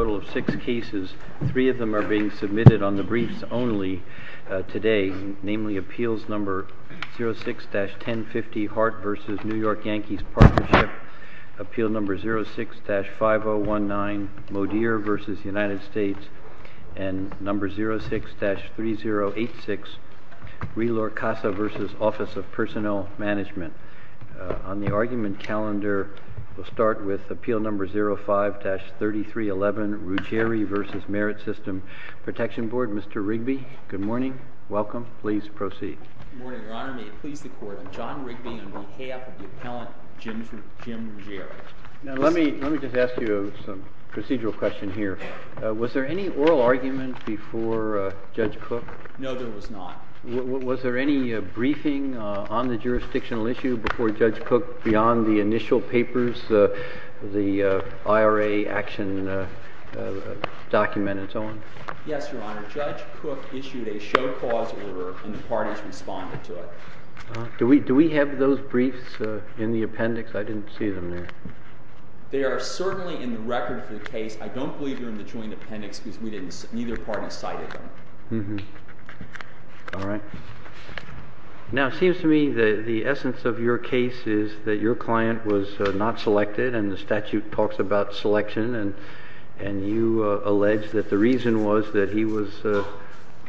A total of six cases, three of them are being submitted on the briefs only today, namely Appeals No. 06-1050 Hart v. New York Yankees Partnership, Appeal No. 06-5019 Modier v. United States, and No. 06-3086 Rehler-Casa v. Office of Personnel Management. On the argument calendar, we'll start with Appeal No. 05-3311, Ruggieri v. Merit System Protection Board. Mr. Rigby, good morning. Welcome. Please proceed. Good morning, Your Honor. May it please the Court, I'm John Rigby on behalf of the appellant, Jim Ruggieri. Now let me just ask you some procedural question here. Was there any oral argument before Judge Cook? No, there was not. Was there any briefing on the jurisdictional issue before Judge Cook beyond the initial papers, the IRA action document and so on? Yes, Your Honor. Judge Cook issued a show cause order, and the parties responded to it. Do we have those briefs in the appendix? I didn't see them there. They are certainly in the record for the case. I don't believe they're in the joint appendix, because neither party cited them. All right. Now it seems to me that the essence of your case is that your client was not selected, and the statute talks about selection. And you allege that the reason was that he was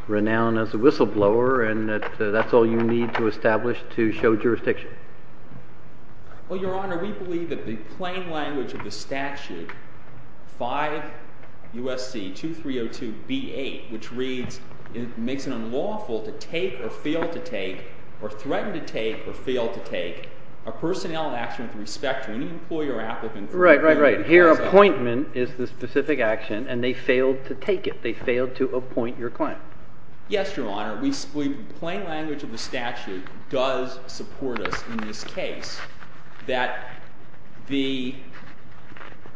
renowned as a whistleblower, and that that's all you need to establish to show jurisdiction. Well, Your Honor, we believe that the plain language of the statute, 5 U.S.C. 2302b8, which reads, it makes it unlawful to take, or fail to take, or threaten to take, or fail to take, a personnel action with respect to any employer or applicant. Right, right, right. Here, appointment is the specific action, and they failed to take it. They failed to appoint your client. Yes, Your Honor. Plain language of the statute does support us in this case, that we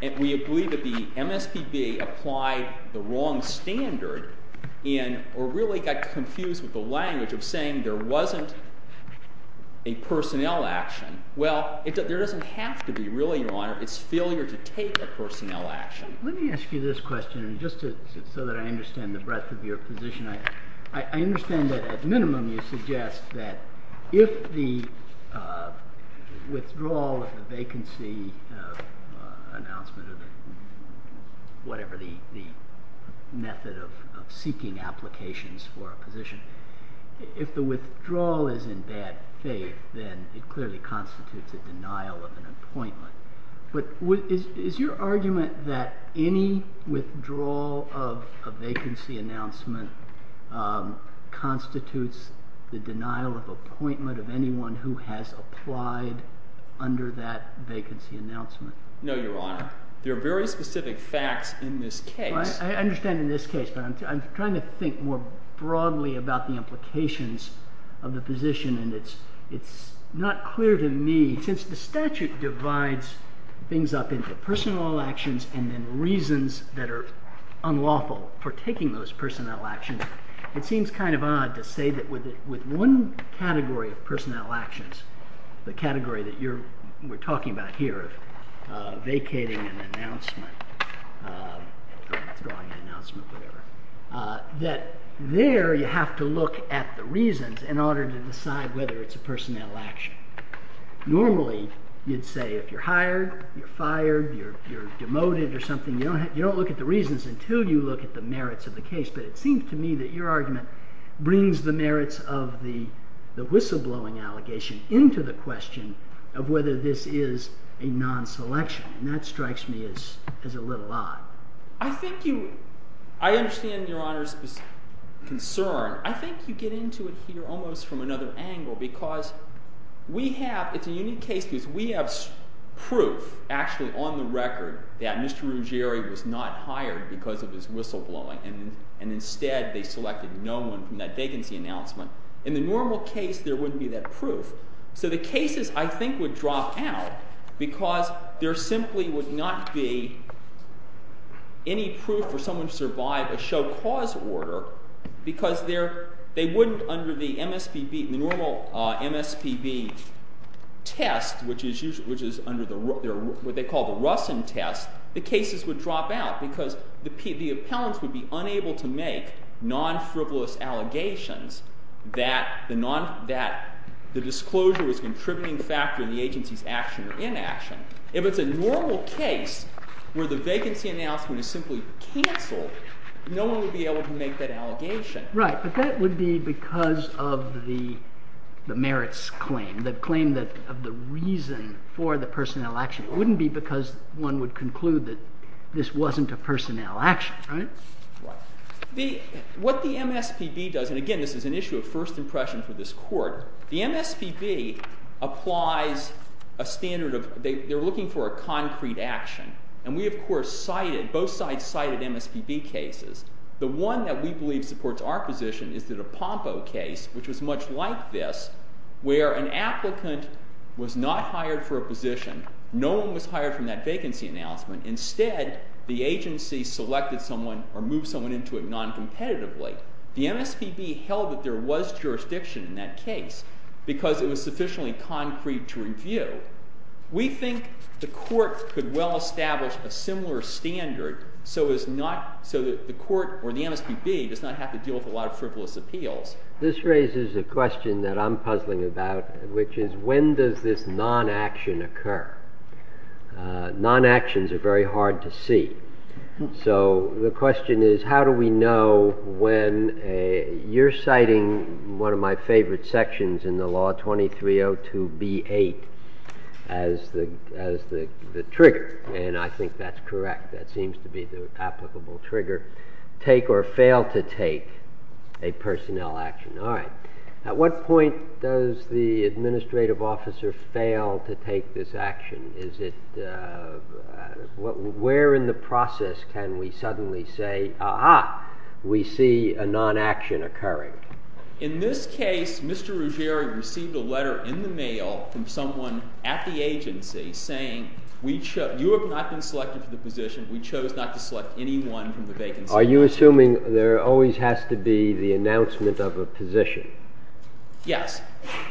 believe that the MSPB applied the wrong standard, and really got confused with the language of saying there wasn't a personnel action. Well, there doesn't have to be, really, Your Honor. It's failure to take a personnel action. Let me ask you this question, just so that I understand the breadth of your position. I understand that, at minimum, you suggest that if the withdrawal of the vacancy announcement, whatever the method of seeking applications for a position, if the withdrawal is in bad faith, then it clearly constitutes a denial of an appointment. But is your argument that any withdrawal of a vacancy announcement constitutes the denial of appointment of anyone who has applied under that vacancy announcement? No, Your Honor. There are very specific facts in this case. I understand in this case, but I'm trying to think more broadly about the implications of the position. And it's not clear to me, since the statute divides things up into personnel actions and then reasons that are unlawful for taking those personnel actions, it seems kind of odd to say that with one category of personnel actions, the category that we're talking about here, vacating an announcement, withdrawing an announcement, whatever, that there, you have to look at the reasons in order to decide whether it's a personnel action. Normally, you'd say if you're hired, you're fired, you're demoted or something, you don't look at the reasons until you look at the merits of the case. But it seems to me that your argument brings the merits of the whistleblowing allegation into the question of whether this is a non-selection. And that strikes me as a little odd. I think you, I understand Your Honor's concern. I think you get into it here almost from another angle. Because we have, it's a unique case because we have proof, actually, on the record that Mr. Ruggieri was not hired because of his whistleblowing. And instead, they selected no one from that vacancy announcement. In the normal case, there wouldn't be that proof. So the cases, I think, would drop out because there simply would not be any proof for someone to survive a show cause order because they wouldn't, under the MSPB, the normal MSPB test, which is what they call the Russon test, the cases would drop out because the appellants would be unable to make non-frivolous allegations that the disclosure was a contributing factor in the agency's action or inaction. If it's a normal case where the vacancy announcement is simply canceled, no one would be able to make that allegation. Right, but that would be because of the merits claim, the claim of the reason for the personnel action. It wouldn't be because one would conclude that this wasn't a personnel action, right? What the MSPB does, and again, this is an issue of first impression for this court, the MSPB applies a standard of, they're looking for a concrete action. And we, of course, cited, both sides cited MSPB cases. The one that we believe supports our position is the DePompo case, which was much like this, where an applicant was not hired for a position. No one was hired from that vacancy announcement. Instead, the agency selected someone or moved someone into it non-competitively. The MSPB held that there was jurisdiction in that case because it was sufficiently concrete to review. We think the court could well establish a similar standard so that the court, or the MSPB, does not have to deal with a lot of frivolous appeals. This raises a question that I'm puzzling about, which is when does this non-action occur? Non-actions are very hard to see. So the question is, how do we know when you're citing one of my favorite sections in the law, 2302B8, as the trigger? And I think that's correct. That seems to be the applicable trigger. Take or fail to take a personnel action. All right. At what point does the administrative officer fail to take this action? Is it, where in the process can we suddenly say, ah-ha, we see a non-action occurring? In this case, Mr. Ruggieri received a letter in the mail from someone at the agency saying, you have not been selected for the position. We chose not to select anyone from the vacancy. Are you assuming there always has to be the announcement of a position? Yes.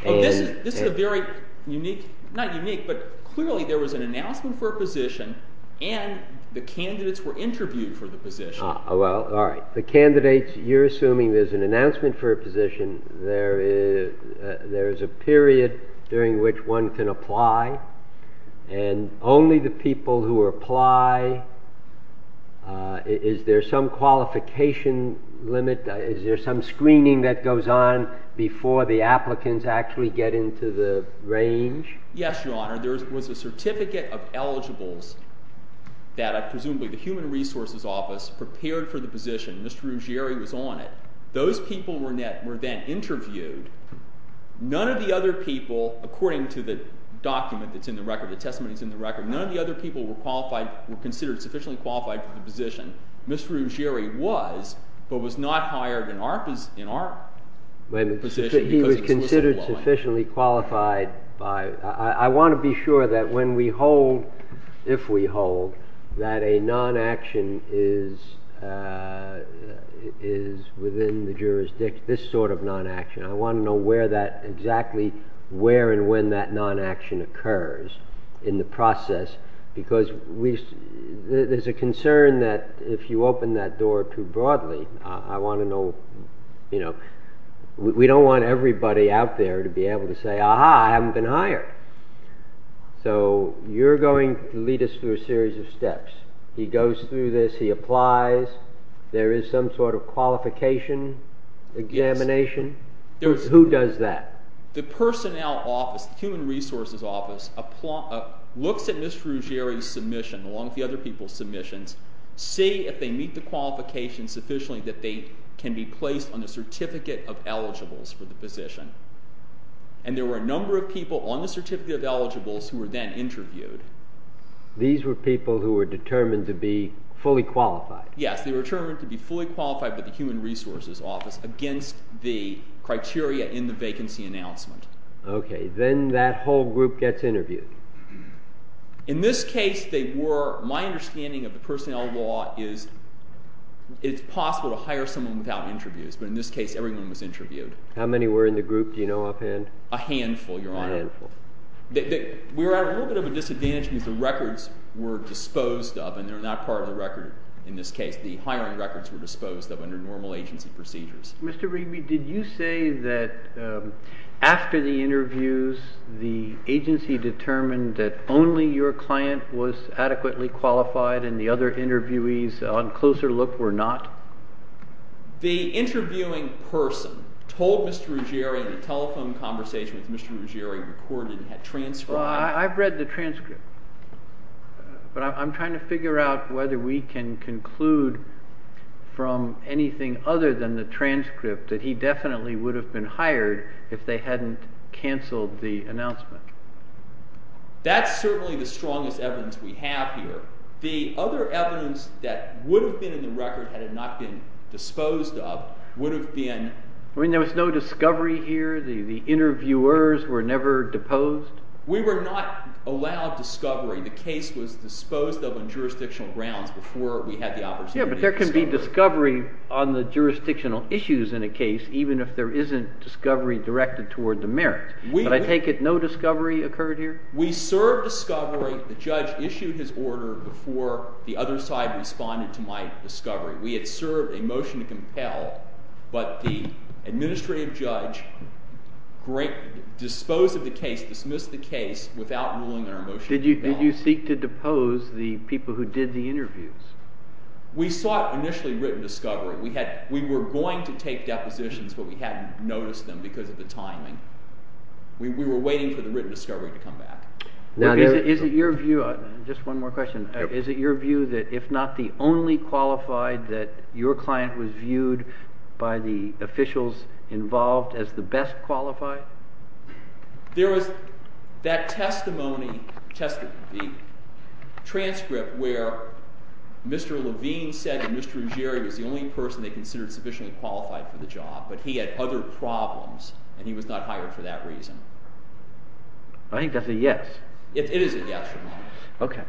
This is a very unique, not unique, but clearly there was an announcement for a position and the candidates were interviewed for the position. Well, all right. The candidates, you're assuming there's an announcement for a position. There is a period during which one can apply. And only the people who apply, is there some qualification limit? Is there some screening that goes on before the applicants actually get into the range? Yes, Your Honor. There was a certificate of eligibles that presumably the Human Resources Office prepared for the position. Mr. Ruggieri was on it. Those people were then interviewed. None of the other people, according to the document that's in the record, the testimony that's in the record, none of the other people were considered sufficiently qualified for the position. Mr. Ruggieri was, but was not hired in our position because he was so well-known. He was considered sufficiently qualified by. I want to be sure that when we hold, if we hold, that a non-action is within the jurisdiction, this sort of non-action. I want to know exactly where and when that non-action occurs in the process. Because there's a concern that if you open that door too broadly, I want to know. We don't want everybody out there to be able to say, aha, I haven't been hired. So you're going to lead us through a series of steps. He goes through this. He applies. There is some sort of qualification examination. Who does that? The personnel office, the Human Resources Office, looks at Mr. Ruggieri's submission, along with the other people's submissions, see if they meet the qualifications sufficiently that they can be placed on the certificate of eligibles for the position. And there were a number of people on the certificate of eligibles who were then interviewed. These were people who were determined to be fully qualified. Yes, they were determined to be fully qualified by the Human Resources Office against the criteria in the vacancy announcement. OK, then that whole group gets interviewed. In this case, my understanding of the personnel law is it's possible to hire someone without interviews. But in this case, everyone was interviewed. How many were in the group? Do you know offhand? A handful, Your Honor. A handful. We were at a little bit of a disadvantage because the records were disposed of. And they're not part of the record in this case. The hiring records were disposed of under normal agency procedures. Mr. Ruggieri, did you say that after the interviews, the agency determined that only your client was adequately qualified and the other interviewees on closer look were not? The interviewing person told Mr. Ruggieri in a telephone conversation with Mr. Ruggieri recorded he had transcribed. Well, I've read the transcript. But I'm trying to figure out whether we can conclude from anything other than the transcript that he definitely would have been hired if they hadn't canceled the announcement. That's certainly the strongest evidence we have here. The other evidence that would have been in the record had it not been disposed of would have been. I mean, there was no discovery here? The interviewers were never deposed? We were not allowed discovery. The case was disposed of on jurisdictional grounds before we had the opportunity to discover. Yeah, but there can be discovery on the jurisdictional issues in a case, even if there isn't discovery directed toward the merits. But I take it no discovery occurred here? We served discovery. The judge issued his order before the other side responded to my discovery. We had served a motion to compel. But the administrative judge disposed of the case, dismissed the case, without ruling on our motion to compel. Did you seek to depose the people who did the interviews? We sought initially written discovery. We were going to take depositions, but we hadn't noticed them because of the timing. We were waiting for the written discovery to come back. Now, is it your view, just one more question, is it your view that if not the only qualified that your client was viewed by the officials involved as the best qualified? There was that testimony, the transcript, where Mr. Levine said that Mr. Ruggeri was the only person they considered sufficiently qualified for the job. But he had other problems, and he was not hired for that reason. I think that's a yes. It is a yes from my end. OK.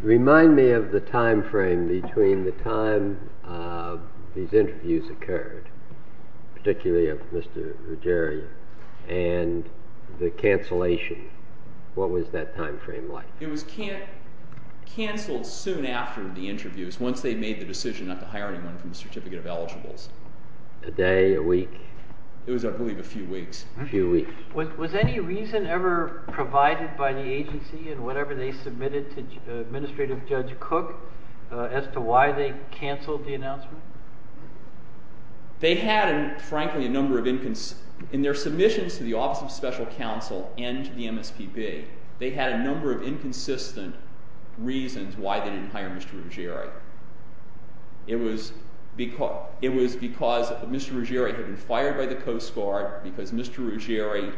Remind me of the time frame between the time these interviews occurred, particularly of Mr. Ruggeri, and the cancellation. What was that time frame like? It was canceled soon after the interviews, once they made the decision not to hire anyone from the certificate of eligibles. A day, a week? It was, I believe, a few weeks. A few weeks. Was any reason ever provided by the agency and whatever they submitted to Administrative Judge Cook as to why they canceled the announcement? They had, frankly, a number of inconsistencies. In their submissions to the Office of Special Counsel and to the MSPB, they had a number of inconsistent reasons why they didn't hire Mr. Ruggeri. It was because Mr. Ruggeri had been fired by the Coast Guard because Mr. Ruggeri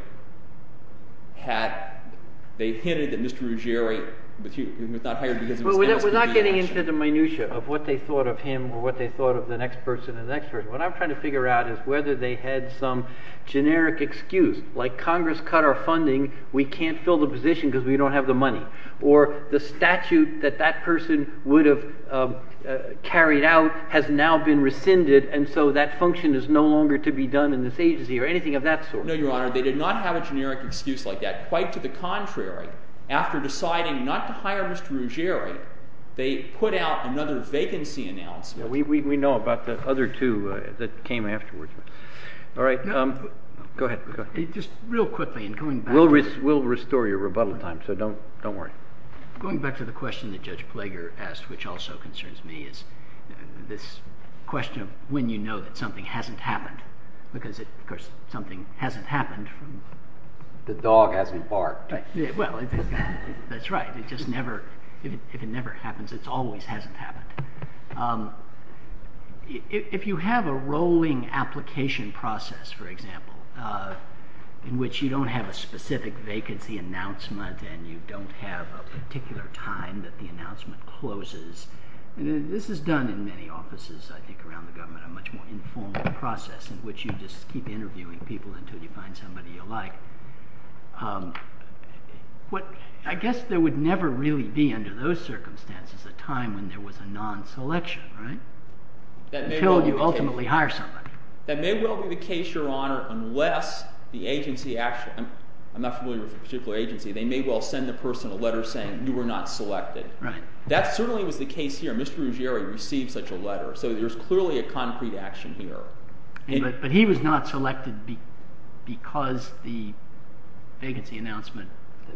had, they hinted that Mr. Ruggeri was not hired because of his past career action. We're not getting into the minutiae of what they thought of him or what they thought of the next person and the next person. What I'm trying to figure out is whether they had some generic excuse, like Congress cut our funding, we can't fill the position because we don't have the money. Or the statute that that person would have carried out has now been rescinded, and so that function is no longer to be done in this agency or anything of that sort. No, Your Honor, they did not have a generic excuse like that. Quite to the contrary, after deciding not to hire Mr. Ruggeri, they put out another vacancy announcement. We know about the other two that came afterwards. All right, go ahead. Just real quickly, and going back. We'll restore your rebuttal time, so don't worry. Going back to the question that Judge Plager asked, which also concerns me, is this question when you know that something hasn't happened? Because, of course, something hasn't happened. The dog hasn't barked. Well, that's right. If it never happens, it always hasn't happened. If you have a rolling application process, for example, in which you don't have a specific vacancy announcement and you don't have a particular time that the announcement closes, and this is done in many offices, I think, around the government, a much more informal process in which you just keep interviewing people until you find somebody you like, I guess there would never really be, under those circumstances, a time when there was a non-selection, until you ultimately hire somebody. That may well be the case, Your Honor, unless the agency actually, I'm not familiar with a particular agency, they may well send the person a letter saying, you were not selected. That certainly was the case here. Mr. Ruggieri received such a letter. So there's clearly a concrete action here. But he was not selected because the vacancy announcement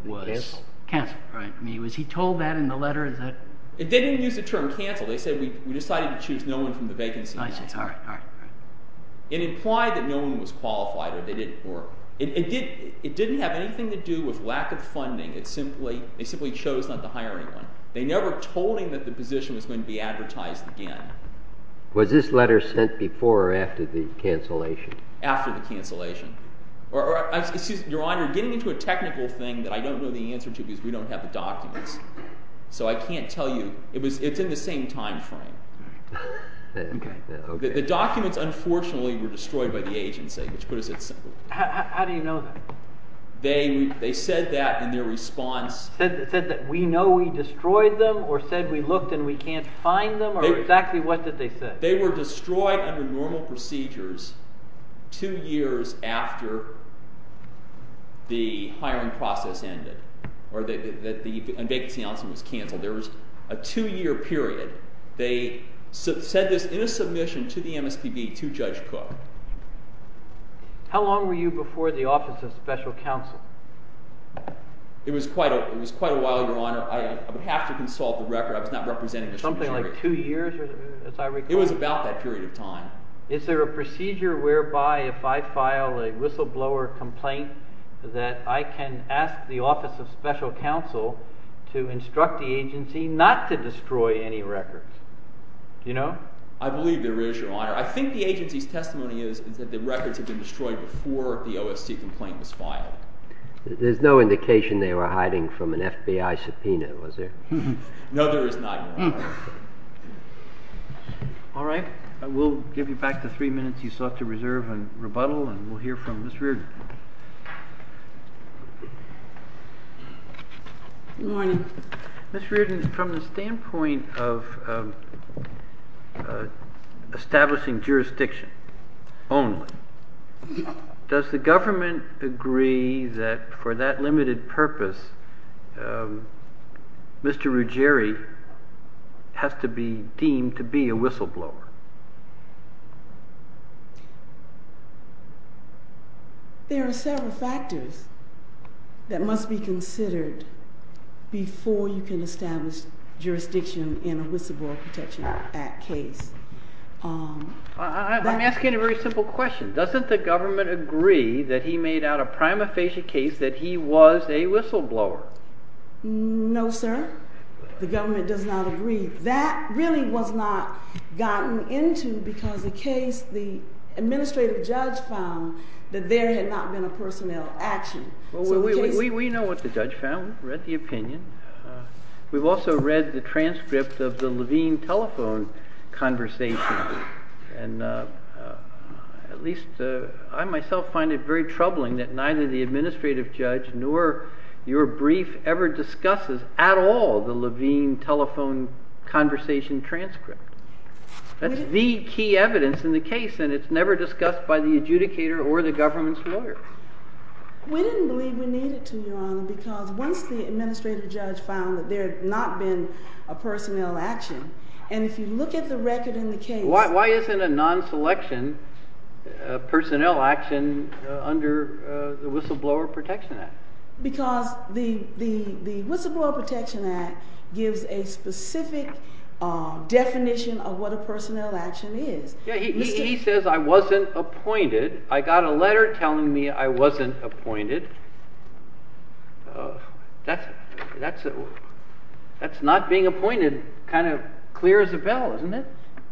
was canceled, right? I mean, was he told that in the letter? It didn't use the term canceled. They said, we decided to choose no one from the vacancy. I see, all right. It implied that no one was qualified or they didn't work. It didn't have anything to do with lack of funding. They simply chose not to hire anyone. They never told him that the position was going to be advertised again. Was this letter sent before or after the cancellation? After the cancellation. Or excuse me, Your Honor, getting into a technical thing that I don't know the answer to because we don't have the documents. So I can't tell you. It's in the same time frame. The documents, unfortunately, were destroyed by the agency, which put it simply. How do you know that? They said that in their response. It said that we know we destroyed them, or said we looked and we can't find them, or exactly what did they say? They were destroyed under normal procedures two years after the hiring process ended, or the vacancy announcement was canceled. There was a two-year period. They said this in a submission to the MSPB to Judge Cook. How long were you before the Office of Special Counsel? It was quite a while, Your Honor. I would have to consult the record. I was not representing Mr. DeGioia. Something like two years, as I recall? It was about that period of time. Is there a procedure whereby if I file a whistleblower complaint that I can ask the Office of Special Counsel to instruct the agency not to destroy any records? Do you know? I believe there is, Your Honor. I think the agency's testimony is that the records had been destroyed before the OSC complaint was filed. There's no indication they were hiding from an FBI subpoena, was there? No, there is not, Your Honor. All right. We'll give you back the three minutes you sought to reserve on rebuttal, and we'll hear from Ms. Reardon. Good morning. Ms. Reardon, from the standpoint of establishing jurisdiction only, does the government agree that for that limited purpose, Mr. Ruggeri has to be deemed to be a whistleblower? There are several factors that must be considered before you can establish jurisdiction in a Whistleblower Protection Act case. I'm asking a very simple question. Doesn't the government agree that he made out a prima facie case that he was a whistleblower? No, sir. The government does not agree. That really was not gotten into because the case, the administrative judge found that there had not been a personnel action. Well, we know what the judge found, read the opinion. We've also read the transcript of the Levine telephone conversation. And at least I myself find it very troubling that neither the administrative judge nor your brief ever discusses at all the Levine telephone conversation transcript. That's the key evidence in the case, and it's never discussed by the adjudicator or the government's lawyer. We didn't believe we needed to, Your Honor, because once the administrative judge found that there had not been a personnel action. And if you look at the record in the case. Why isn't a non-selection personnel action under the Whistleblower Protection Act? Because the Whistleblower Protection Act gives a specific definition of what a personnel action is. Yeah, he says I wasn't appointed. I got a letter telling me I wasn't appointed. That's not being appointed kind of clear as a bell, isn't it?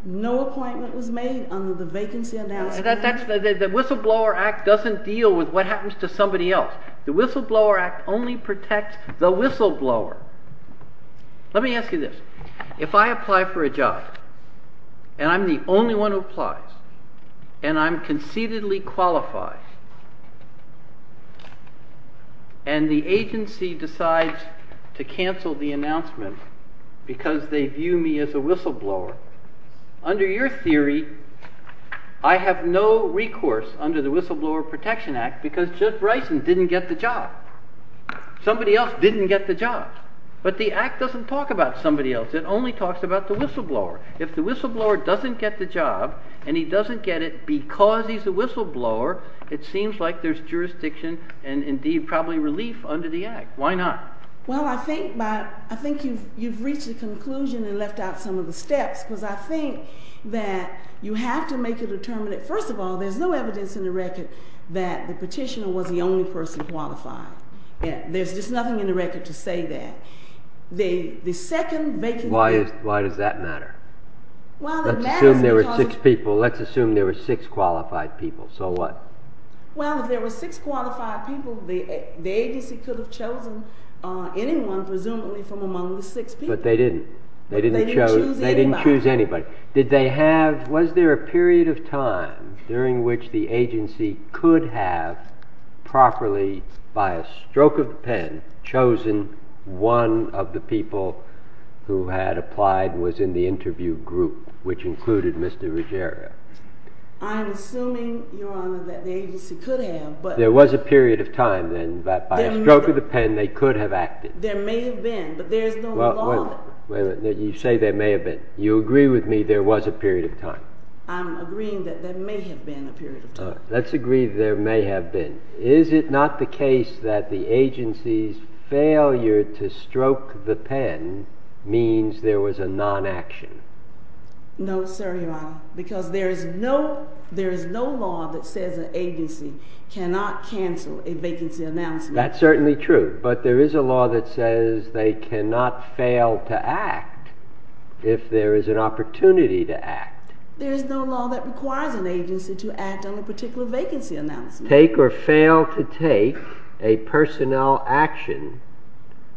No appointment was made under the vacancy announcement. The Whistleblower Act doesn't deal with what happens to somebody else. The Whistleblower Act only protects the whistleblower. Let me ask you this. If I apply for a job, and I'm the only one who applies, and I'm concededly qualified, and the agency decides to cancel the announcement because they view me as a whistleblower, under your theory, I have no recourse under the Whistleblower Protection Act because Jeff Bryson didn't get the job. Somebody else didn't get the job. But the act doesn't talk about somebody else. It only talks about the whistleblower. If the whistleblower doesn't get the job, and he doesn't get it because he's a whistleblower, it seems like there's jurisdiction and, indeed, probably relief under the act. Why not? Well, I think you've reached the conclusion and left out some of the steps. Because I think that you have to make a determinate. First of all, there's no evidence in the record that the petitioner was the only person qualified. There's just nothing in the record to say that. The second vacancy announcement. Why does that matter? Let's assume there were six people. Let's assume there were six qualified people. So what? Well, if there were six qualified people, the agency could have chosen anyone, presumably, from among the six people. But they didn't. They didn't choose anybody. Did they have, was there a period of time during which the agency could have properly, by a stroke of the pen, chosen one of the people who had applied and was in the interview group, which included Mr. Ruggiero? I'm assuming, Your Honor, that the agency could have, but. There was a period of time, then, that by a stroke of the pen they could have acted. There may have been, but there's no law that. You say there may have been. You agree with me there was a period of time? I'm agreeing that there may have been a period of time. Let's agree there may have been. Is it not the case that the agency's failure to stroke the pen means there was a non-action? No, sir, Your Honor. Because there is no law that says an agency cannot cancel a vacancy announcement. That's certainly true. But there is a law that says they cannot fail to act if there is an opportunity to act. There is no law that requires an agency to act on a particular vacancy announcement. Take or fail to take a personnel action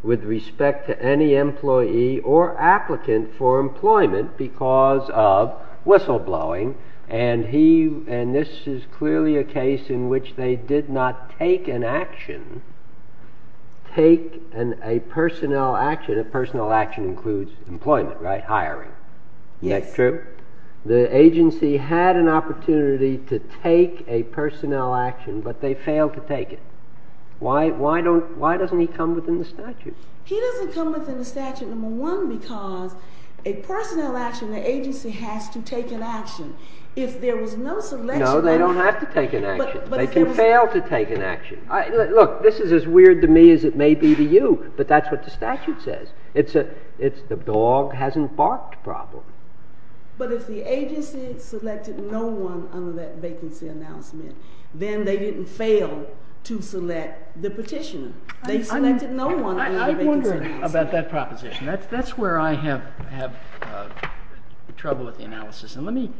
with respect to any employee or applicant for employment because of whistleblowing. And this is clearly a case in which they did not take an action, take a personnel action. A personnel action includes employment, right? Hiring. Yes. That's true. The agency had an opportunity to take a personnel action, but they failed to take it. Why doesn't he come within the statute? He doesn't come within the statute, number one, because a personnel action, the agency has to take an action. If there was no selection action. No, they don't have to take an action. They can fail to take an action. Look, this is as weird to me as it may be to you, but that's what the statute says. It's the dog hasn't barked problem. But if the agency selected no one under that vacancy announcement, then they didn't fail to select the petitioner. They selected no one under the vacancy announcement. I wonder about that proposition. That's where I have trouble with the analysis. And let me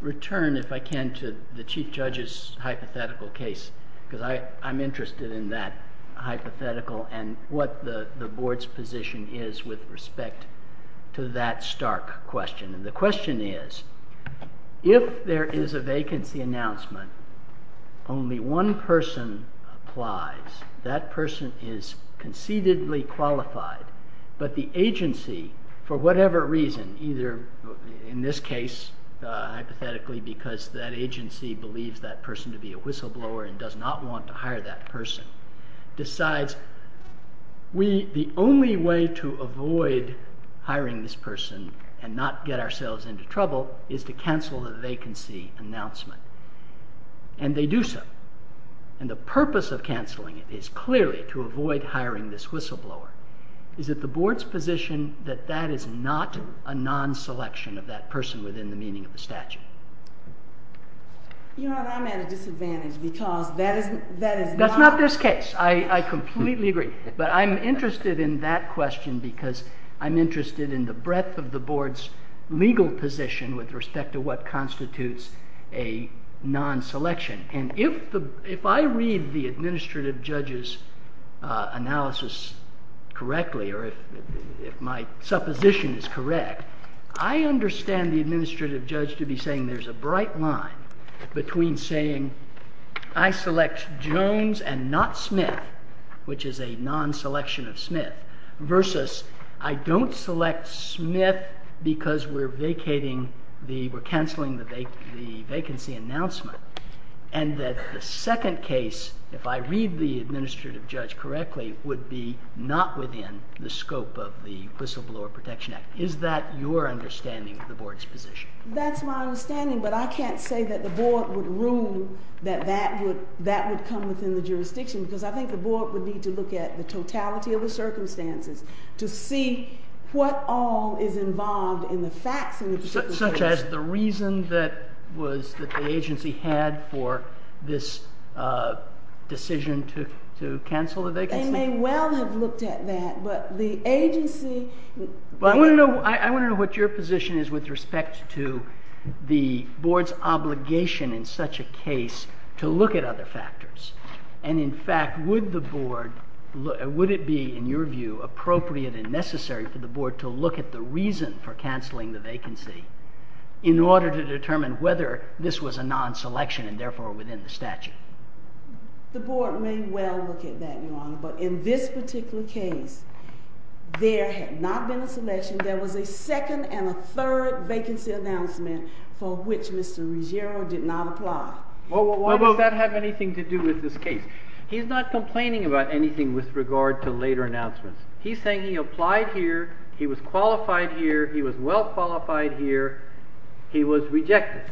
return, if I can, to the chief judge's hypothetical case because I'm interested in that hypothetical and what the board's position is with respect to that stark question. And the question is, if there is a vacancy announcement, only one person applies, that person is concededly qualified, but the agency, for whatever reason, either in this case, hypothetically, because that agency believes that person to be a whistleblower and does not want to hire that person, decides the only way to avoid hiring this person and not get ourselves into trouble is to cancel the vacancy announcement. And they do so. And the purpose of canceling it is clearly to avoid hiring this whistleblower. Is it the board's position that that is not a non-selection of that person within the meaning of the statute? You know, I'm at a disadvantage because that is not. Not this case. I completely agree. But I'm interested in that question because I'm interested in the breadth of the board's legal position with respect to what constitutes a non-selection. And if I read the administrative judge's analysis correctly, or if my supposition is correct, I understand the administrative judge to be saying there's a bright line between saying, I select Jones and not Smith, which is a non-selection of Smith, versus I don't select Smith because we're canceling the vacancy announcement, and that the second case, if I read the administrative judge correctly, would be not within the scope of the Whistleblower Protection Act. Is that your understanding of the board's position? That's my understanding, but I can't say that the board would rule that that would come within the jurisdiction. Because I think the board would need to look at the totality of the circumstances to see what all is involved in the facts in the particular case. Such as the reason that the agency had for this decision to cancel the vacancy? They may well have looked at that, but the agency. Well, I want to know what your position is with respect to the board's obligation in such a case to look at other factors. And in fact, would the board, would it be, in your view, appropriate and necessary for the board to look at the reason for canceling the vacancy in order to determine whether this was a non-selection and therefore within the statute? The board may well look at that, Your Honor. But in this particular case, there had not been a selection. There was a second and a third vacancy announcement for which Mr. Ruggiero did not apply. Well, why does that have anything to do with this case? He's not complaining about anything with regard to later announcements. He's saying he applied here. He was qualified here. He was well-qualified here. He was rejected.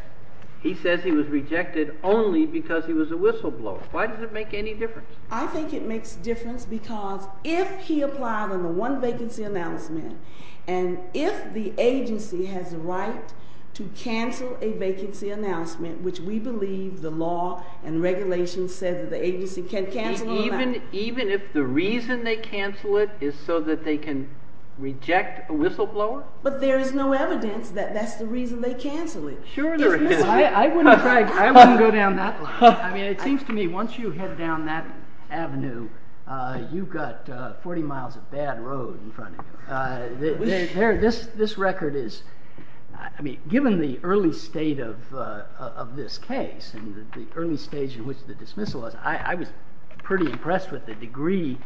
He says he was rejected only because he was a whistleblower. Why does it make any difference? I think it makes difference because if he and if the agency has a right to cancel a vacancy announcement, which we believe the law and regulations said that the agency can cancel or not. Even if the reason they cancel it is so that they can reject a whistleblower? But there is no evidence that that's the reason they cancel it. Sure there is. I wouldn't go down that line. I mean, it seems to me once you head down that avenue, you've got 40 miles of bad road in front of you. This record is, I mean, given the early state of this case and the early stage in which the dismissal was, I was pretty impressed with the degree,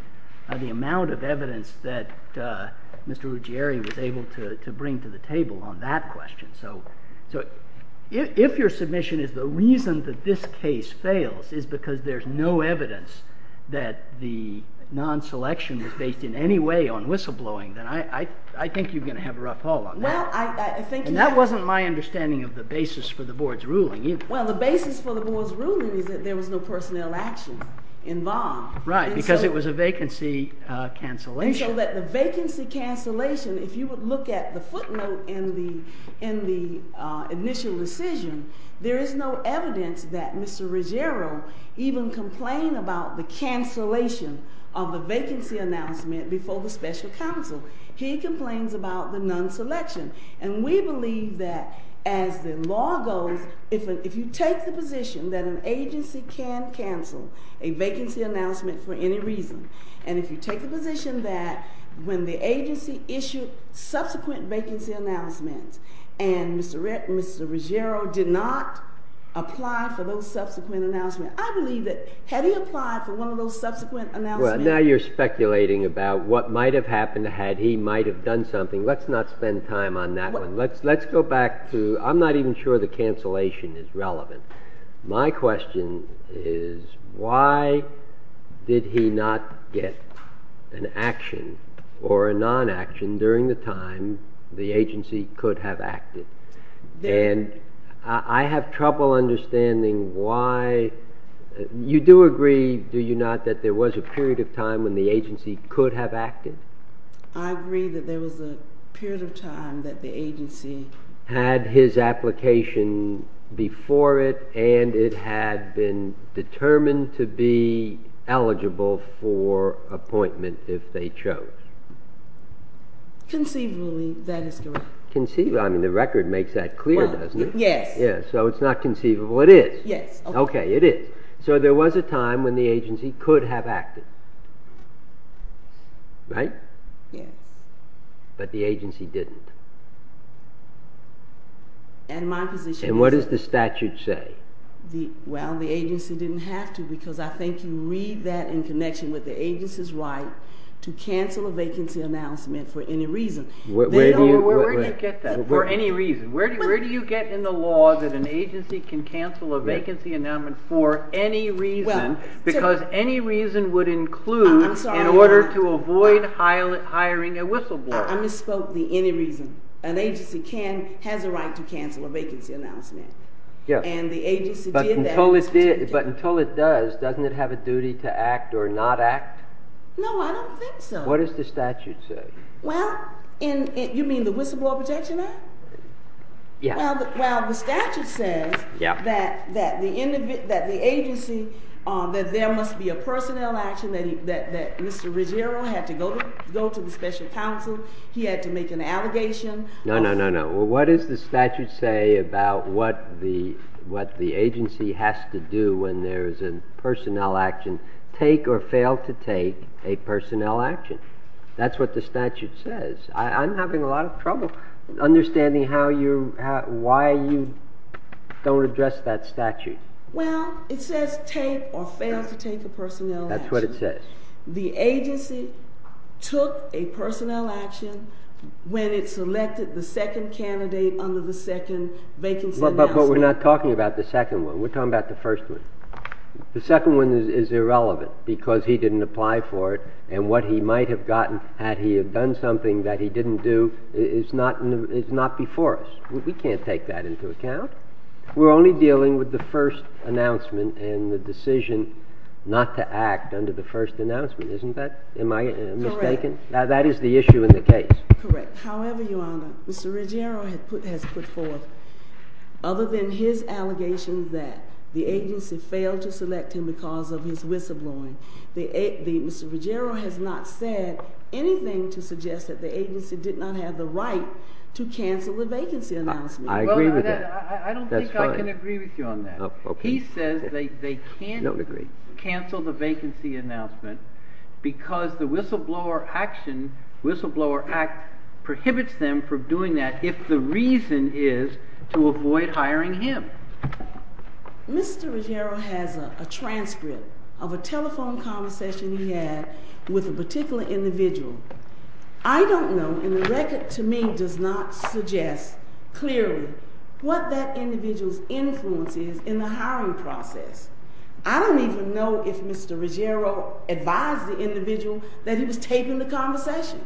the amount of evidence that Mr. Ruggiero was able to bring to the table on that question. So if your submission is the reason that this case fails is because there's no evidence that the non-selection was based in any way on whistleblowing, then I think you're going to have a rough haul on that. And that wasn't my understanding of the basis for the board's ruling either. Well, the basis for the board's ruling is that there was no personnel action involved. Right, because it was a vacancy cancellation. And so that the vacancy cancellation, if you would look at the footnote in the initial decision, there is no evidence that Mr. Ruggiero even complained about the cancellation of the vacancy announcement before the special counsel. He complains about the non-selection. And we believe that as the law goes, if you take the position that an agency can cancel a vacancy announcement for any reason, and if you take the position that when the agency issued subsequent vacancy announcements and Mr. Ruggiero did not apply for those subsequent announcements, I believe that had he applied for one of those subsequent announcements. Well, now you're speculating about what might have happened had he might have done something. Let's not spend time on that one. Let's go back to, I'm not even sure the cancellation is relevant. My question is, why did he not get an action or a non-action during the time the agency could have acted? And I have trouble understanding why. You do agree, do you not, that there was a period of time when the agency could have acted? I agree that there was a period of time that the agency had his application before it and it had been determined to be eligible for appointment if they chose. Conceivably, that is correct. Conceivably, I mean, the record makes that clear, doesn't it? Yes. So it's not conceivable, it is. Yes. OK, it is. So there was a time when the agency could have acted, right? Yes. But the agency didn't. And my position is that. And what does the statute say? Well, the agency didn't have to, because I think you read that in connection with the agency's right to cancel a vacancy announcement for any reason. Where do you get that, for any reason? Where do you get in the law that an agency can cancel a vacancy announcement for any reason? Because any reason would include in order to avoid hiring a whistleblower. I misspoke the any reason. An agency has a right to cancel a vacancy announcement. And the agency did that. But until it does, doesn't it have a duty to act or not act? No, I don't think so. What does the statute say? Well, you mean the Whistleblower Protection Act? Yeah. Well, the statute says that the agency, that there must be a personnel action, that Mr. Ruggiero had to go to the special counsel. He had to make an allegation. No, no, no, no. Well, what does the statute say about what the agency has to do when there is a personnel action, take or fail to take a personnel action? That's what the statute says. I'm having a lot of trouble understanding why you don't address that statute. Well, it says take or fail to take a personnel action. That's what it says. The agency took a personnel action when it selected the second candidate under the second vacancy announcement. But we're not talking about the second one. We're talking about the first one. The second one is irrelevant, because he didn't apply for it. And what he might have gotten had he have done something that he didn't do is not before us. We can't take that into account. We're only dealing with the first announcement and the decision not to act under the first announcement. Isn't that? Am I mistaken? That is the issue in the case. Correct. However, Your Honor, Mr. Ruggiero has put forth, other than his allegations that the agency failed to select him because of his whistleblowing, Mr. Ruggiero has not said anything to suggest that the agency did not have the right to cancel the vacancy announcement. I agree with that. I don't think I can agree with you on that. He says they can't cancel the vacancy announcement, because the whistleblower act prohibits them from doing that if the reason is to avoid hiring him. Mr. Ruggiero has a transcript of a telephone conversation he had with a particular individual. I don't know, and the record to me does not suggest clearly what that individual's influence is in the hiring process. I don't even know if Mr. Ruggiero advised the individual that he was taping the conversation.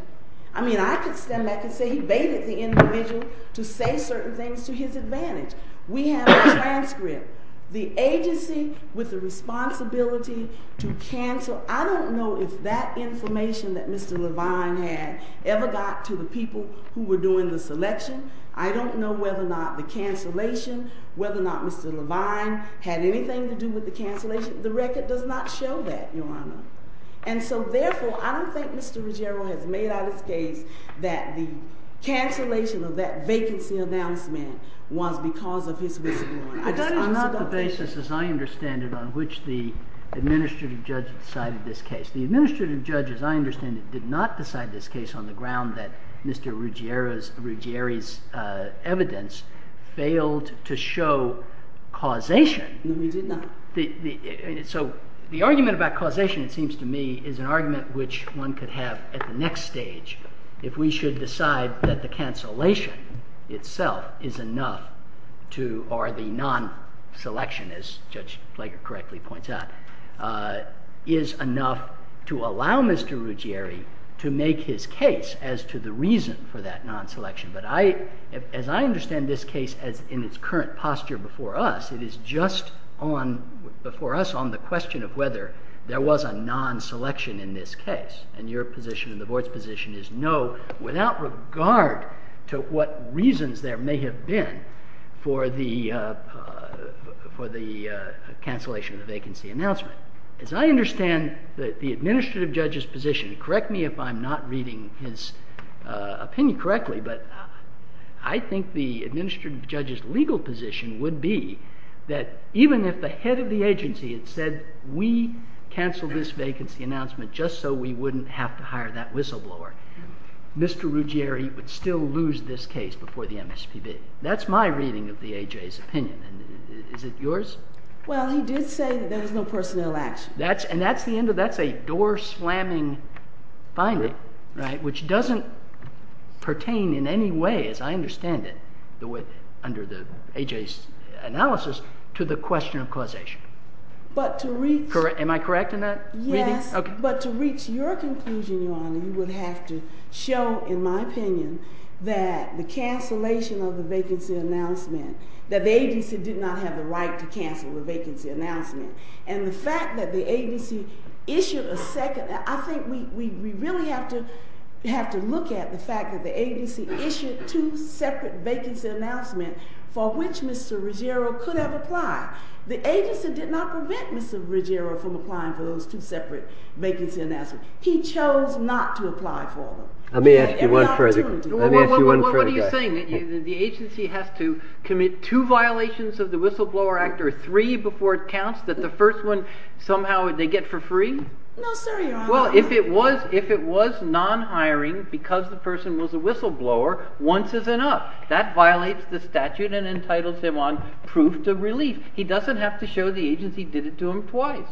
I mean, I could stand back and say he baited the individual to say certain things to his advantage. We have a transcript. The agency with the responsibility to cancel, I don't know if that information that Mr. Levine had ever got to the people who were doing the selection. I don't know whether or not the cancellation, whether or not Mr. Levine had anything to do with the cancellation. The record does not show that, Your Honor. And so therefore, I don't think Mr. Ruggiero has made out his case that the cancellation of that vacancy announcement was because of his whistleblower. I'm not the basis, as I understand it, on which the administrative judge decided this case. The administrative judge, as I understand it, did not decide this case on the ground that Mr. Ruggiero's evidence failed to show causation. No, he did not. So the argument about causation, it seems to me, is an argument which one could have at the next stage if we should decide that the cancellation itself is enough to, or the non-selection, as Judge Flake correctly points out, is enough to allow Mr. Ruggiero to make his case as to the reason for that non-selection. But as I understand this case in its current posture before us, it is just before us on the question of whether there was a non-selection in this case. And your position and the board's position is no, without regard to what reasons there may have been for the cancellation of the vacancy announcement. As I understand the administrative judge's position, correct me if I'm not reading his opinion correctly, but I think the administrative judge's legal position would be that even if the head of the agency had said, we canceled this vacancy announcement just so we wouldn't have to hire that whistleblower, Mr. Ruggiero would still lose this case before the MSPB. That's my reading of the AJ's opinion, and is it yours? Well, he did say that there was no personnel action. And that's a door slamming finding, which doesn't pertain in any way, as I understand it, under the AJ's analysis, to the question of causation. Am I correct in that reading? Yes. But to reach your conclusion, Your Honor, you would have to show, in my opinion, that the cancellation of the vacancy announcement, that the agency did not have the right to cancel the vacancy announcement. And the fact that the agency issued a second, I think we really have to look at the fact that the agency issued two separate vacancy announcements for which Mr. Ruggiero could have applied. The agency did not prevent Mr. Ruggiero from applying for those two separate vacancy announcements. He chose not to apply for them. Let me ask you one further question. Let me ask you one further question. What are you saying? The agency has to commit two violations of the Whistleblower Act, or three before it counts, that the first one, somehow, they get for free? No, sir, Your Honor. Well, if it was non-hiring, because the person was a whistleblower, once is enough. That violates the statute and entitles him on proof of relief. He doesn't have to show the agency did it to him twice.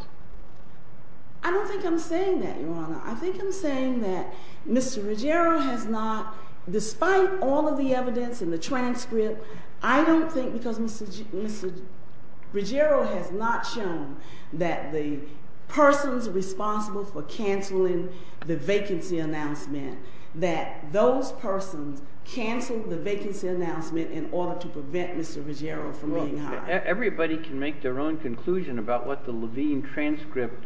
I don't think I'm saying that, Your Honor. I think I'm saying that Mr. Ruggiero has not, despite all of the evidence and the transcript, I don't think because Mr. Ruggiero has not shown that the persons responsible for canceling the vacancy announcement, that those persons canceled the vacancy announcement in order to prevent Mr. Ruggiero from being hired. Everybody can make their own conclusion about what the Levine transcript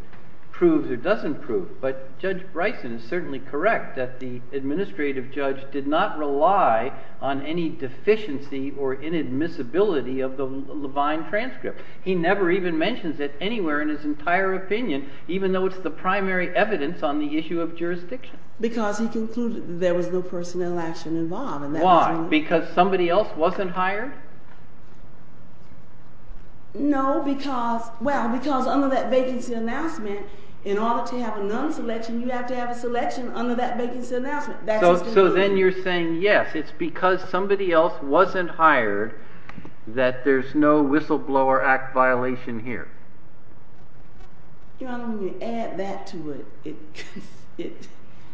proves or doesn't prove. But Judge Bryson is certainly correct that the administrative judge did not rely on any deficiency or inadmissibility of the Levine transcript. He never even mentions it anywhere in his entire opinion, even though it's the primary evidence on the issue of jurisdiction. Because he concluded there was no personnel action involved. Why? Because somebody else wasn't hired? No, because under that vacancy announcement, in order to have a non-selection, you have to have a selection under that vacancy announcement. So then you're saying, yes, it's because somebody else wasn't hired that there's no whistleblower act violation here. You know, when you add that to it,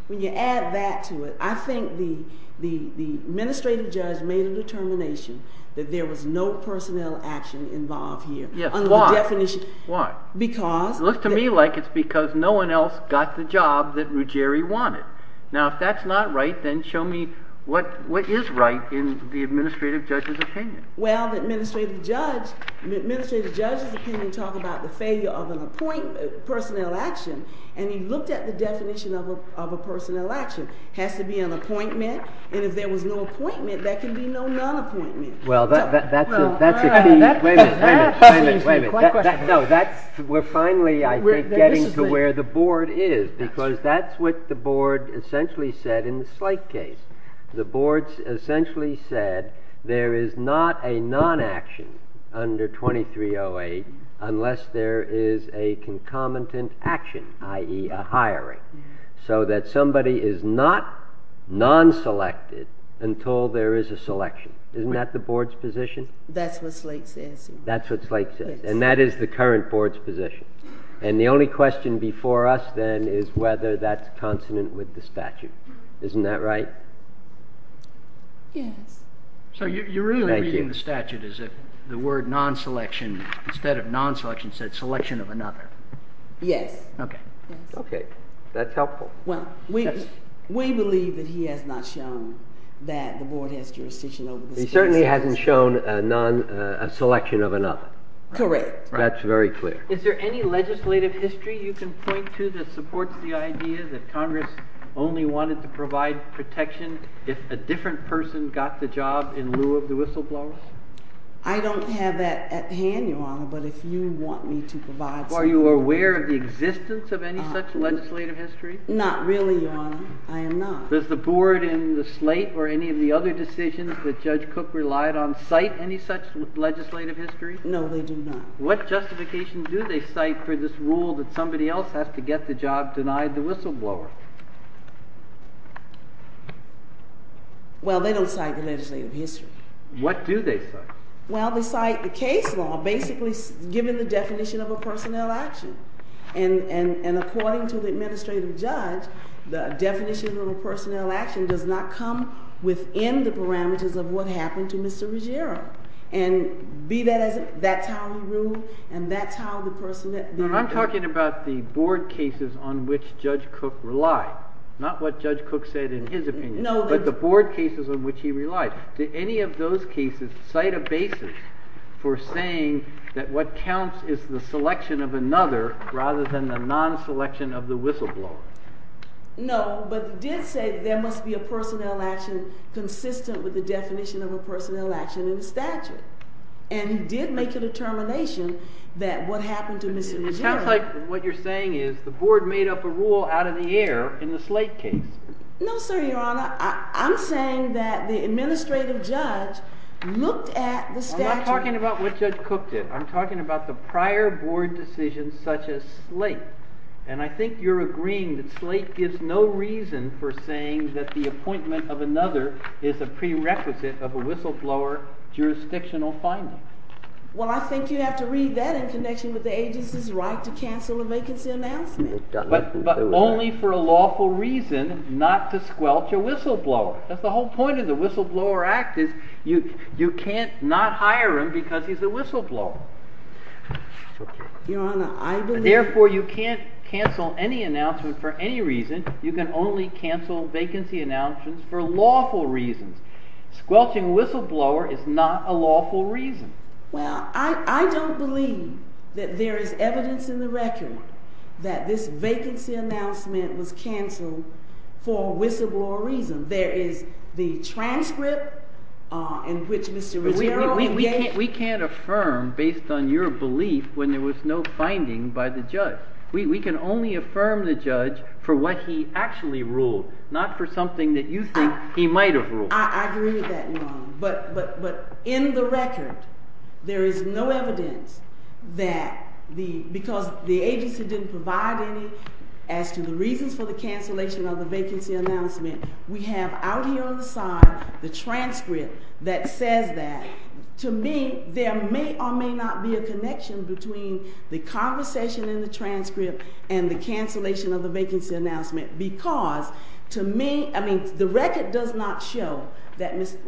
when you add that to it, I think the administrative judge made a determination that there was no personnel action involved here. Yes, why? Under the definition. Why? Because. It looks to me like it's because no one else got the job that Ruggiero wanted. Now, if that's not right, then show me what is right in the administrative judge's opinion. Well, the administrative judge's opinion didn't talk about the failure of a personnel action. And he looked at the definition of a personnel action. Has to be an appointment. And if there was no appointment, there can be no non-appointment. Well, that's a key. Wait a minute, wait a minute. We're finally, I think, getting to where the board is. Because that's what the board essentially said in the slight case. The board essentially said there is not a non-action under 2308 unless there is a concomitant action, i.e., a hiring. So that somebody is not non-selected until there is a selection. Isn't that the board's position? That's what Slate says. That's what Slate says. And that is the current board's position. And the only question before us, then, is whether that's consonant with the statute. Isn't that right? Yes. So you're really reading the statute as if the word non-selection, instead of non-selection, said selection of another. Yes. OK, that's helpful. Well, we believe that he has not shown that the board has jurisdiction over the statutes. He certainly hasn't shown a selection of another. Correct. That's very clear. Is there any legislative history you can point to that supports the idea that Congress only wanted to provide protection if a different person got the job in lieu of the whistleblower? I don't have that at hand, Your Honor, but if you want me to provide some more. Are you aware of the existence of any such legislative history? Not really, Your Honor. I am not. Does the board in the Slate or any of the other decisions that Judge Cook relied on cite any such legislative history? No, they do not. What justification do they cite for this rule that somebody else has to get the job denied the whistleblower? Well, they don't cite the legislative history. What do they cite? Well, they cite the case law, basically given the definition of a personnel action. And according to the administrative judge, the definition of a personnel action does not come within the parameters of what happened to Mr. Ruggiero. And be that as it, that's how he ruled, and that's how the person that did it. No, I'm talking about the board cases on which Judge Cook relied on. Not what Judge Cook said in his opinion, but the board cases on which he relied. Did any of those cases cite a basis for saying that what counts is the selection of another, rather than the non-selection of the whistleblower? No, but he did say there must be a personnel action consistent with the definition of a personnel action in the statute. And he did make a determination that what happened to Mr. Ruggiero. It sounds like what you're saying is the board made up a rule out of the air in the Slate case. No, sir, your honor. I'm saying that the administrative judge looked at the statute. I'm not talking about what Judge Cook did. I'm talking about the prior board decisions such as Slate. And I think you're agreeing that Slate gives no reason for saying that the appointment of another is a prerequisite of a whistleblower jurisdictional finding. Well, I think you have to read that in connection with the agency's right to cancel a vacancy announcement. But only for a lawful reason, not to squelch a whistleblower. That's the whole point of the Whistleblower Act is you can't not hire him because he's a whistleblower. Your honor, I believe. Therefore, you can't cancel any announcement for any reason. You can only cancel vacancy announcements for lawful reasons. Squelching a whistleblower is not a lawful reason. Well, I don't believe that there is evidence in the record that this vacancy announcement was canceled for a whistleblower reason. There is the transcript in which Mr. Ruggiero gave it. We can't affirm based on your belief when there was no finding by the judge. We can only affirm the judge for what he actually ruled, not for something that you think he might have ruled. I agree with that, your honor. But in the record, there is no evidence that because the agency didn't provide any as to the reasons for the cancellation of the vacancy announcement, we have out here on the side the transcript that says that. To me, there may or may not be a connection between the conversation in the transcript and the cancellation of the vacancy announcement. Because to me, I mean, the record does not show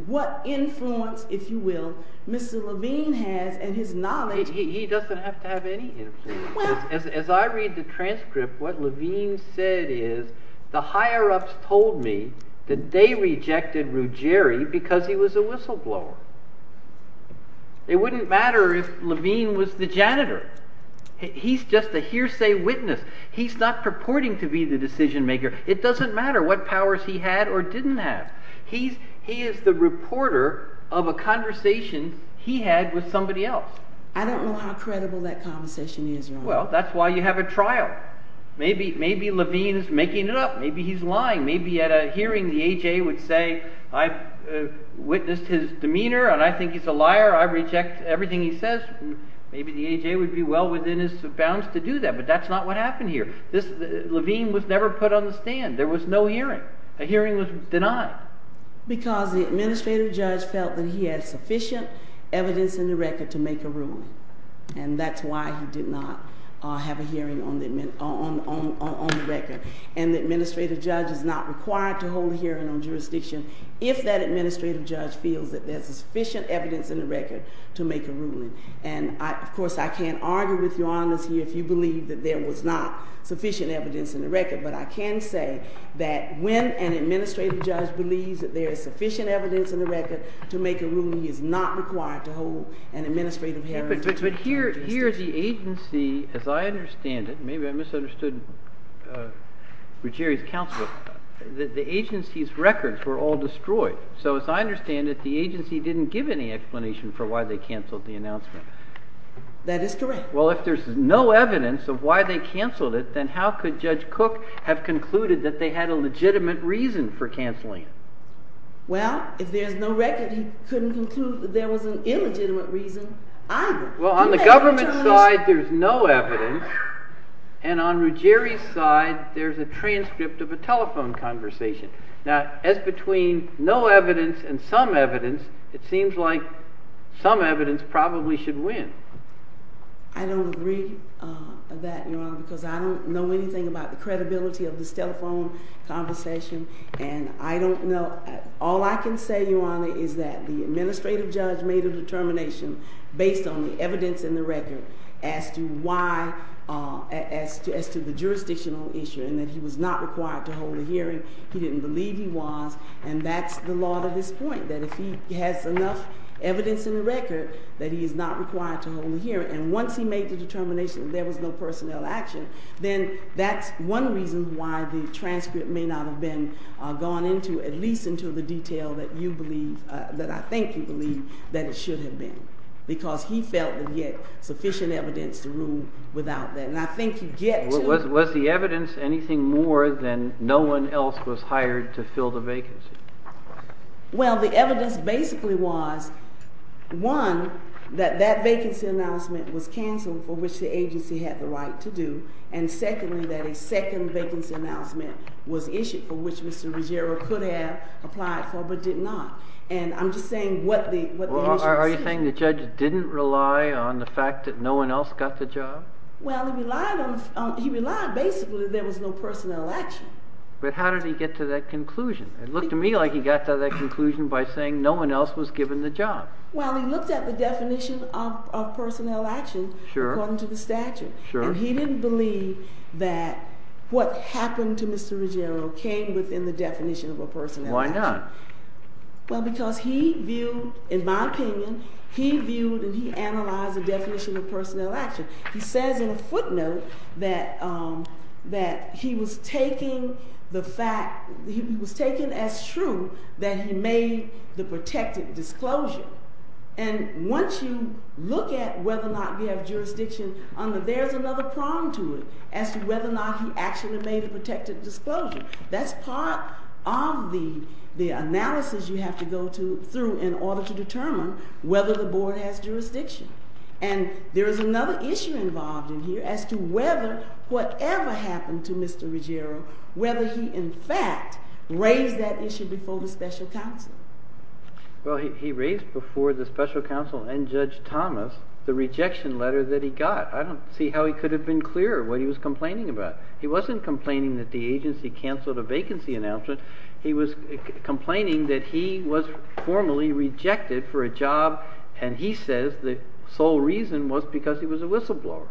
what influence, if you will, Mr. Levine has and his knowledge. He doesn't have to have any influence. As I read the transcript, what Levine said is the higher-ups told me that they rejected Ruggiero because he was a whistleblower. It wouldn't matter if Levine was the janitor. He's just a hearsay witness. He's not purporting to be the decision maker. It doesn't matter what powers he had or didn't have. He is the reporter of a conversation he had with somebody else. I don't know how credible that conversation is, your honor. Well, that's why you have a trial. Maybe Levine's making it up. Maybe he's lying. Maybe at a hearing, the AJ would say, I've witnessed his demeanor and I think he's a liar. I reject everything he says. Maybe the AJ would be well within his bounds to do that. But that's not what happened here. Levine was never put on the stand. There was no hearing. A hearing was denied. Because the administrative judge felt that he had sufficient evidence in the record to make a ruling. And that's why he did not have a hearing on the record. And the administrative judge is not required to hold a hearing on jurisdiction if that administrative judge feels that there's sufficient evidence in the record to make a ruling. And of course, I can't argue with your honors here if you believe that there was not sufficient evidence in the record. But I can say that when an administrative judge believes that there is sufficient evidence in the record to make a ruling, he is not required to hold an administrative hearing. But here, the agency, as I understand it, maybe I misunderstood Ruggieri's counsel, the agency's records were all destroyed. So as I understand it, the agency didn't give any explanation for why they canceled the announcement. That is correct. Well, if there's no evidence of why they canceled it, then how could Judge Cook have concluded that they had a legitimate reason for canceling it? Well, if there's no record, he couldn't conclude that there was an illegitimate reason either. Well, on the government's side, there's no evidence. And on Ruggieri's side, there's a transcript of a telephone conversation. Now, as between no evidence and some evidence, it seems like some evidence probably should win. I don't agree with that, Your Honor, because I don't know anything about the credibility of this telephone conversation. And I don't know. All I can say, Your Honor, is that the administrative judge made a determination based on the evidence in the record as to why, as to the jurisdictional issue, and that he was not required to hold a hearing. He didn't believe he was. And that's the lot of his point, that if he has enough evidence in the record that he is not required to hold a hearing, and once he made the determination that there was no personnel action, then that's one reason why the transcript may not have been gone into, at least into the detail that you believe, that I think you believe, that it should have been. Because he felt that he had sufficient evidence to rule without that. And I think you get to the point. Was the evidence anything more than no one else was hired to fill the vacancy? Well, the evidence basically was, one, that that vacancy announcement was canceled for which the agency had the right to do, and secondly, that a second vacancy announcement was issued for which Mr. Ruggiero could have applied for but did not. And I'm just saying what the issue is. Are you saying the judge didn't rely on the fact that no one else got the job? Well, he relied basically that there was no personnel action. But how did he get to that conclusion? It looked to me like he got to that conclusion by saying no one else was given the job. Well, he looked at the definition of personnel action according to the statute. And he didn't believe that what happened to Mr. Ruggiero came within the definition of a personnel action. Why not? Well, because he viewed, in my opinion, he viewed and he analyzed the definition of personnel action. He says in a footnote that he was taking the fact, he was taking as true that he made the protected disclosure. And once you look at whether or not we have jurisdiction, there's another prong to it as to whether or not he actually made a protected disclosure. That's part of the analysis you have to go through in order to determine whether the board has jurisdiction. And there is another issue involved in here as to whether whatever happened to Mr. Ruggiero, whether he, in fact, raised that issue before the special counsel. Well, he raised before the special counsel and Judge Thomas the rejection letter that he got. I don't see how he could have been clearer what he was complaining about. He wasn't complaining that the agency canceled a vacancy announcement. He was complaining that he was formally rejected for a job. And he says the sole reason was because he was a whistleblower.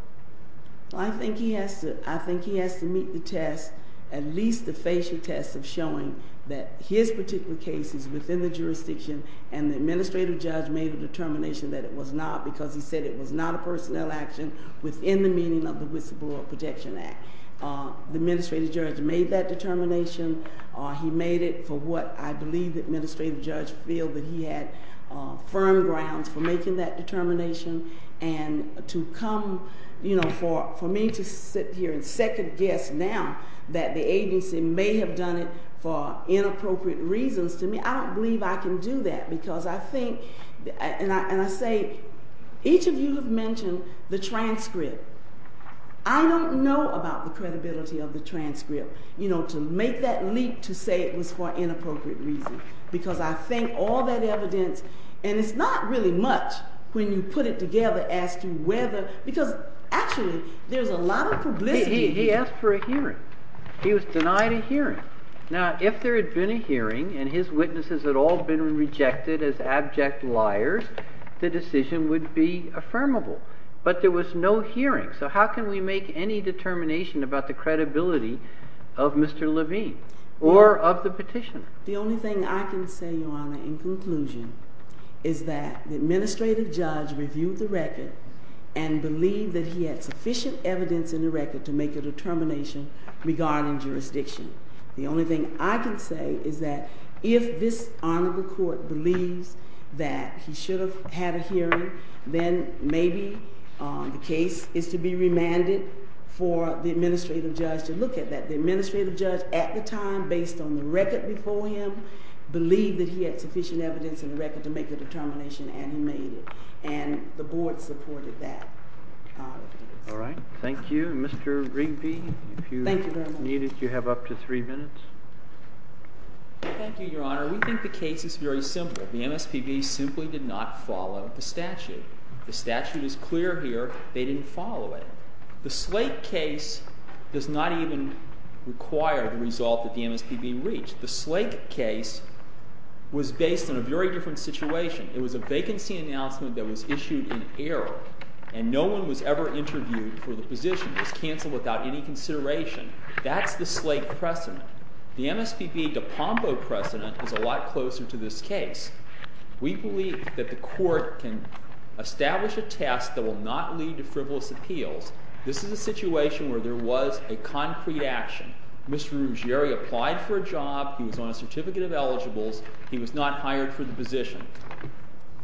I think he has to meet the test, at least the facial test of showing that his particular case is within the jurisdiction and the administrative judge made a determination that it was not because he said it was not a personnel action within the meaning of the Whistleblower Protection Act. The administrative judge made that determination. He made it for what I believe the administrative judge feel that he had firm grounds for making that determination. And for me to sit here and second guess now that the agency may have done it for inappropriate reasons to me, I don't believe I can do that. Because I think, and I say, each of you have mentioned the transcript. I don't know about the credibility of the transcript to make that leap to say it was for inappropriate reasons. Because I think all that evidence, and it's not really much when you put it together as to whether, because actually, there's a lot of publicity. He asked for a hearing. He was denied a hearing. Now, if there had been a hearing and his witnesses had all been rejected as abject liars, the decision would be affirmable. But there was no hearing. So how can we make any determination about the credibility of Mr. Levine or of the petitioner? The only thing I can say, Your Honor, in conclusion is that the administrative judge reviewed the record and believed that he had sufficient evidence in the record to make a determination regarding jurisdiction. The only thing I can say is that if this honorable court believes that he should have had a hearing, then maybe the case is to be remanded for the administrative judge to look at that. The administrative judge, at the time, based on the record before him, believed that he had sufficient evidence in the record to make a determination, and he made it. And the board supported that. All right. Thank you. Mr. Rigby, if you need it, you have up to three minutes. Thank you, Your Honor. We think the case is very simple. The MSPB simply did not follow the statute. The statute is clear here. They didn't follow it. The Slate case does not even require the result that the MSPB reached. The Slate case was based on a very different situation. It was a vacancy announcement that was issued in error, and no one was ever interviewed for the position. It was canceled without any consideration. That's the Slate precedent. The MSPB DePombo precedent is a lot closer to this case. We believe that the court can establish a test that will not lead to frivolous appeals. This is a situation where there was a concrete action. Mr. Ruggieri applied for a job. He was on a certificate of eligibles. He was not hired for the position.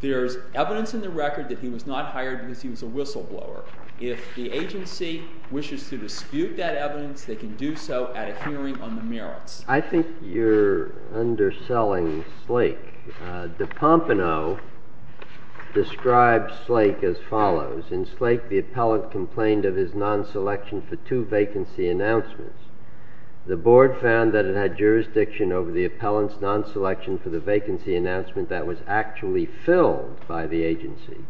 There's evidence in the record that he was not hired because he was a whistleblower. If the agency wishes to dispute that evidence, they can do so at a hearing on the merits. I think you're underselling Slate. DePompano describes Slate as follows. In Slate, the appellant complained of his non-selection for two vacancy announcements. The board found that it had jurisdiction over the appellant's non-selection for the vacancy announcement that was actually filled by the agency,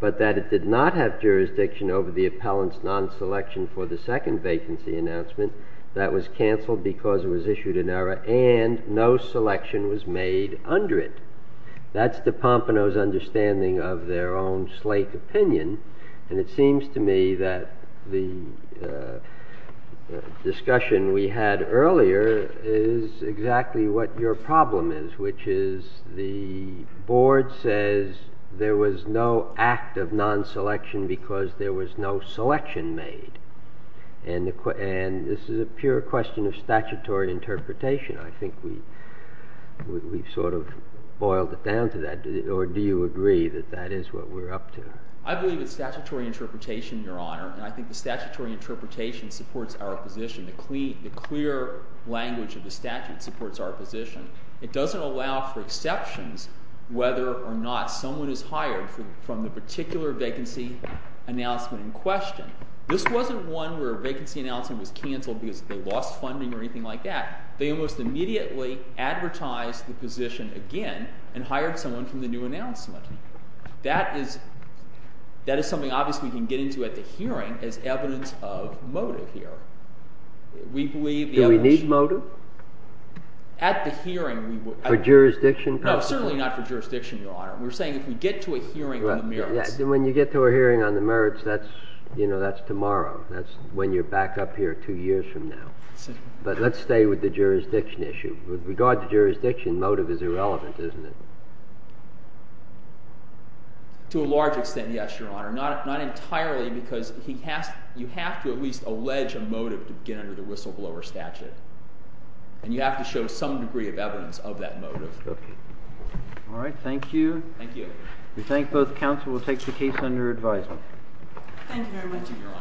but that it did not have jurisdiction over the appellant's non-selection for the second vacancy announcement that was canceled because it was issued in error, and no selection was made under it. That's DePompano's understanding of their own Slate opinion. And it seems to me that the discussion we had earlier is exactly what your problem is, which is the board says there was no act of non-selection because there was no selection made. And this is a pure question of statutory interpretation. I think we've sort of boiled it down to that. Or do you agree that that is what we're up to? I believe it's statutory interpretation, Your Honor. And I think the statutory interpretation supports our position. The clear language of the statute supports our position. It doesn't allow for exceptions whether or not someone is hired from the particular vacancy announcement in question. This wasn't one where a vacancy announcement was canceled because they lost funding or anything like that. They almost immediately advertised the position again and hired someone from the new announcement. That is something, obviously, we can get into at the hearing as evidence of motive here. We believe the evidence. Do we need motive? At the hearing, we would. For jurisdiction purposes? No, certainly not for jurisdiction, Your Honor. We're saying if we get to a hearing on the merits. When you get to a hearing on the merits, that's tomorrow. That's when you're back up here two years from now. But let's stay with the jurisdiction issue. With regard to jurisdiction, motive is irrelevant, isn't it? To a large extent, yes, Your Honor. Not entirely, because you have to at least allege a motive to get under the whistleblower statute. And you have to show some degree of evidence of that motive. All right, thank you. Thank you. We thank both counsel. We'll take the case under advisement. Thank you very much, Your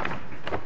Honor.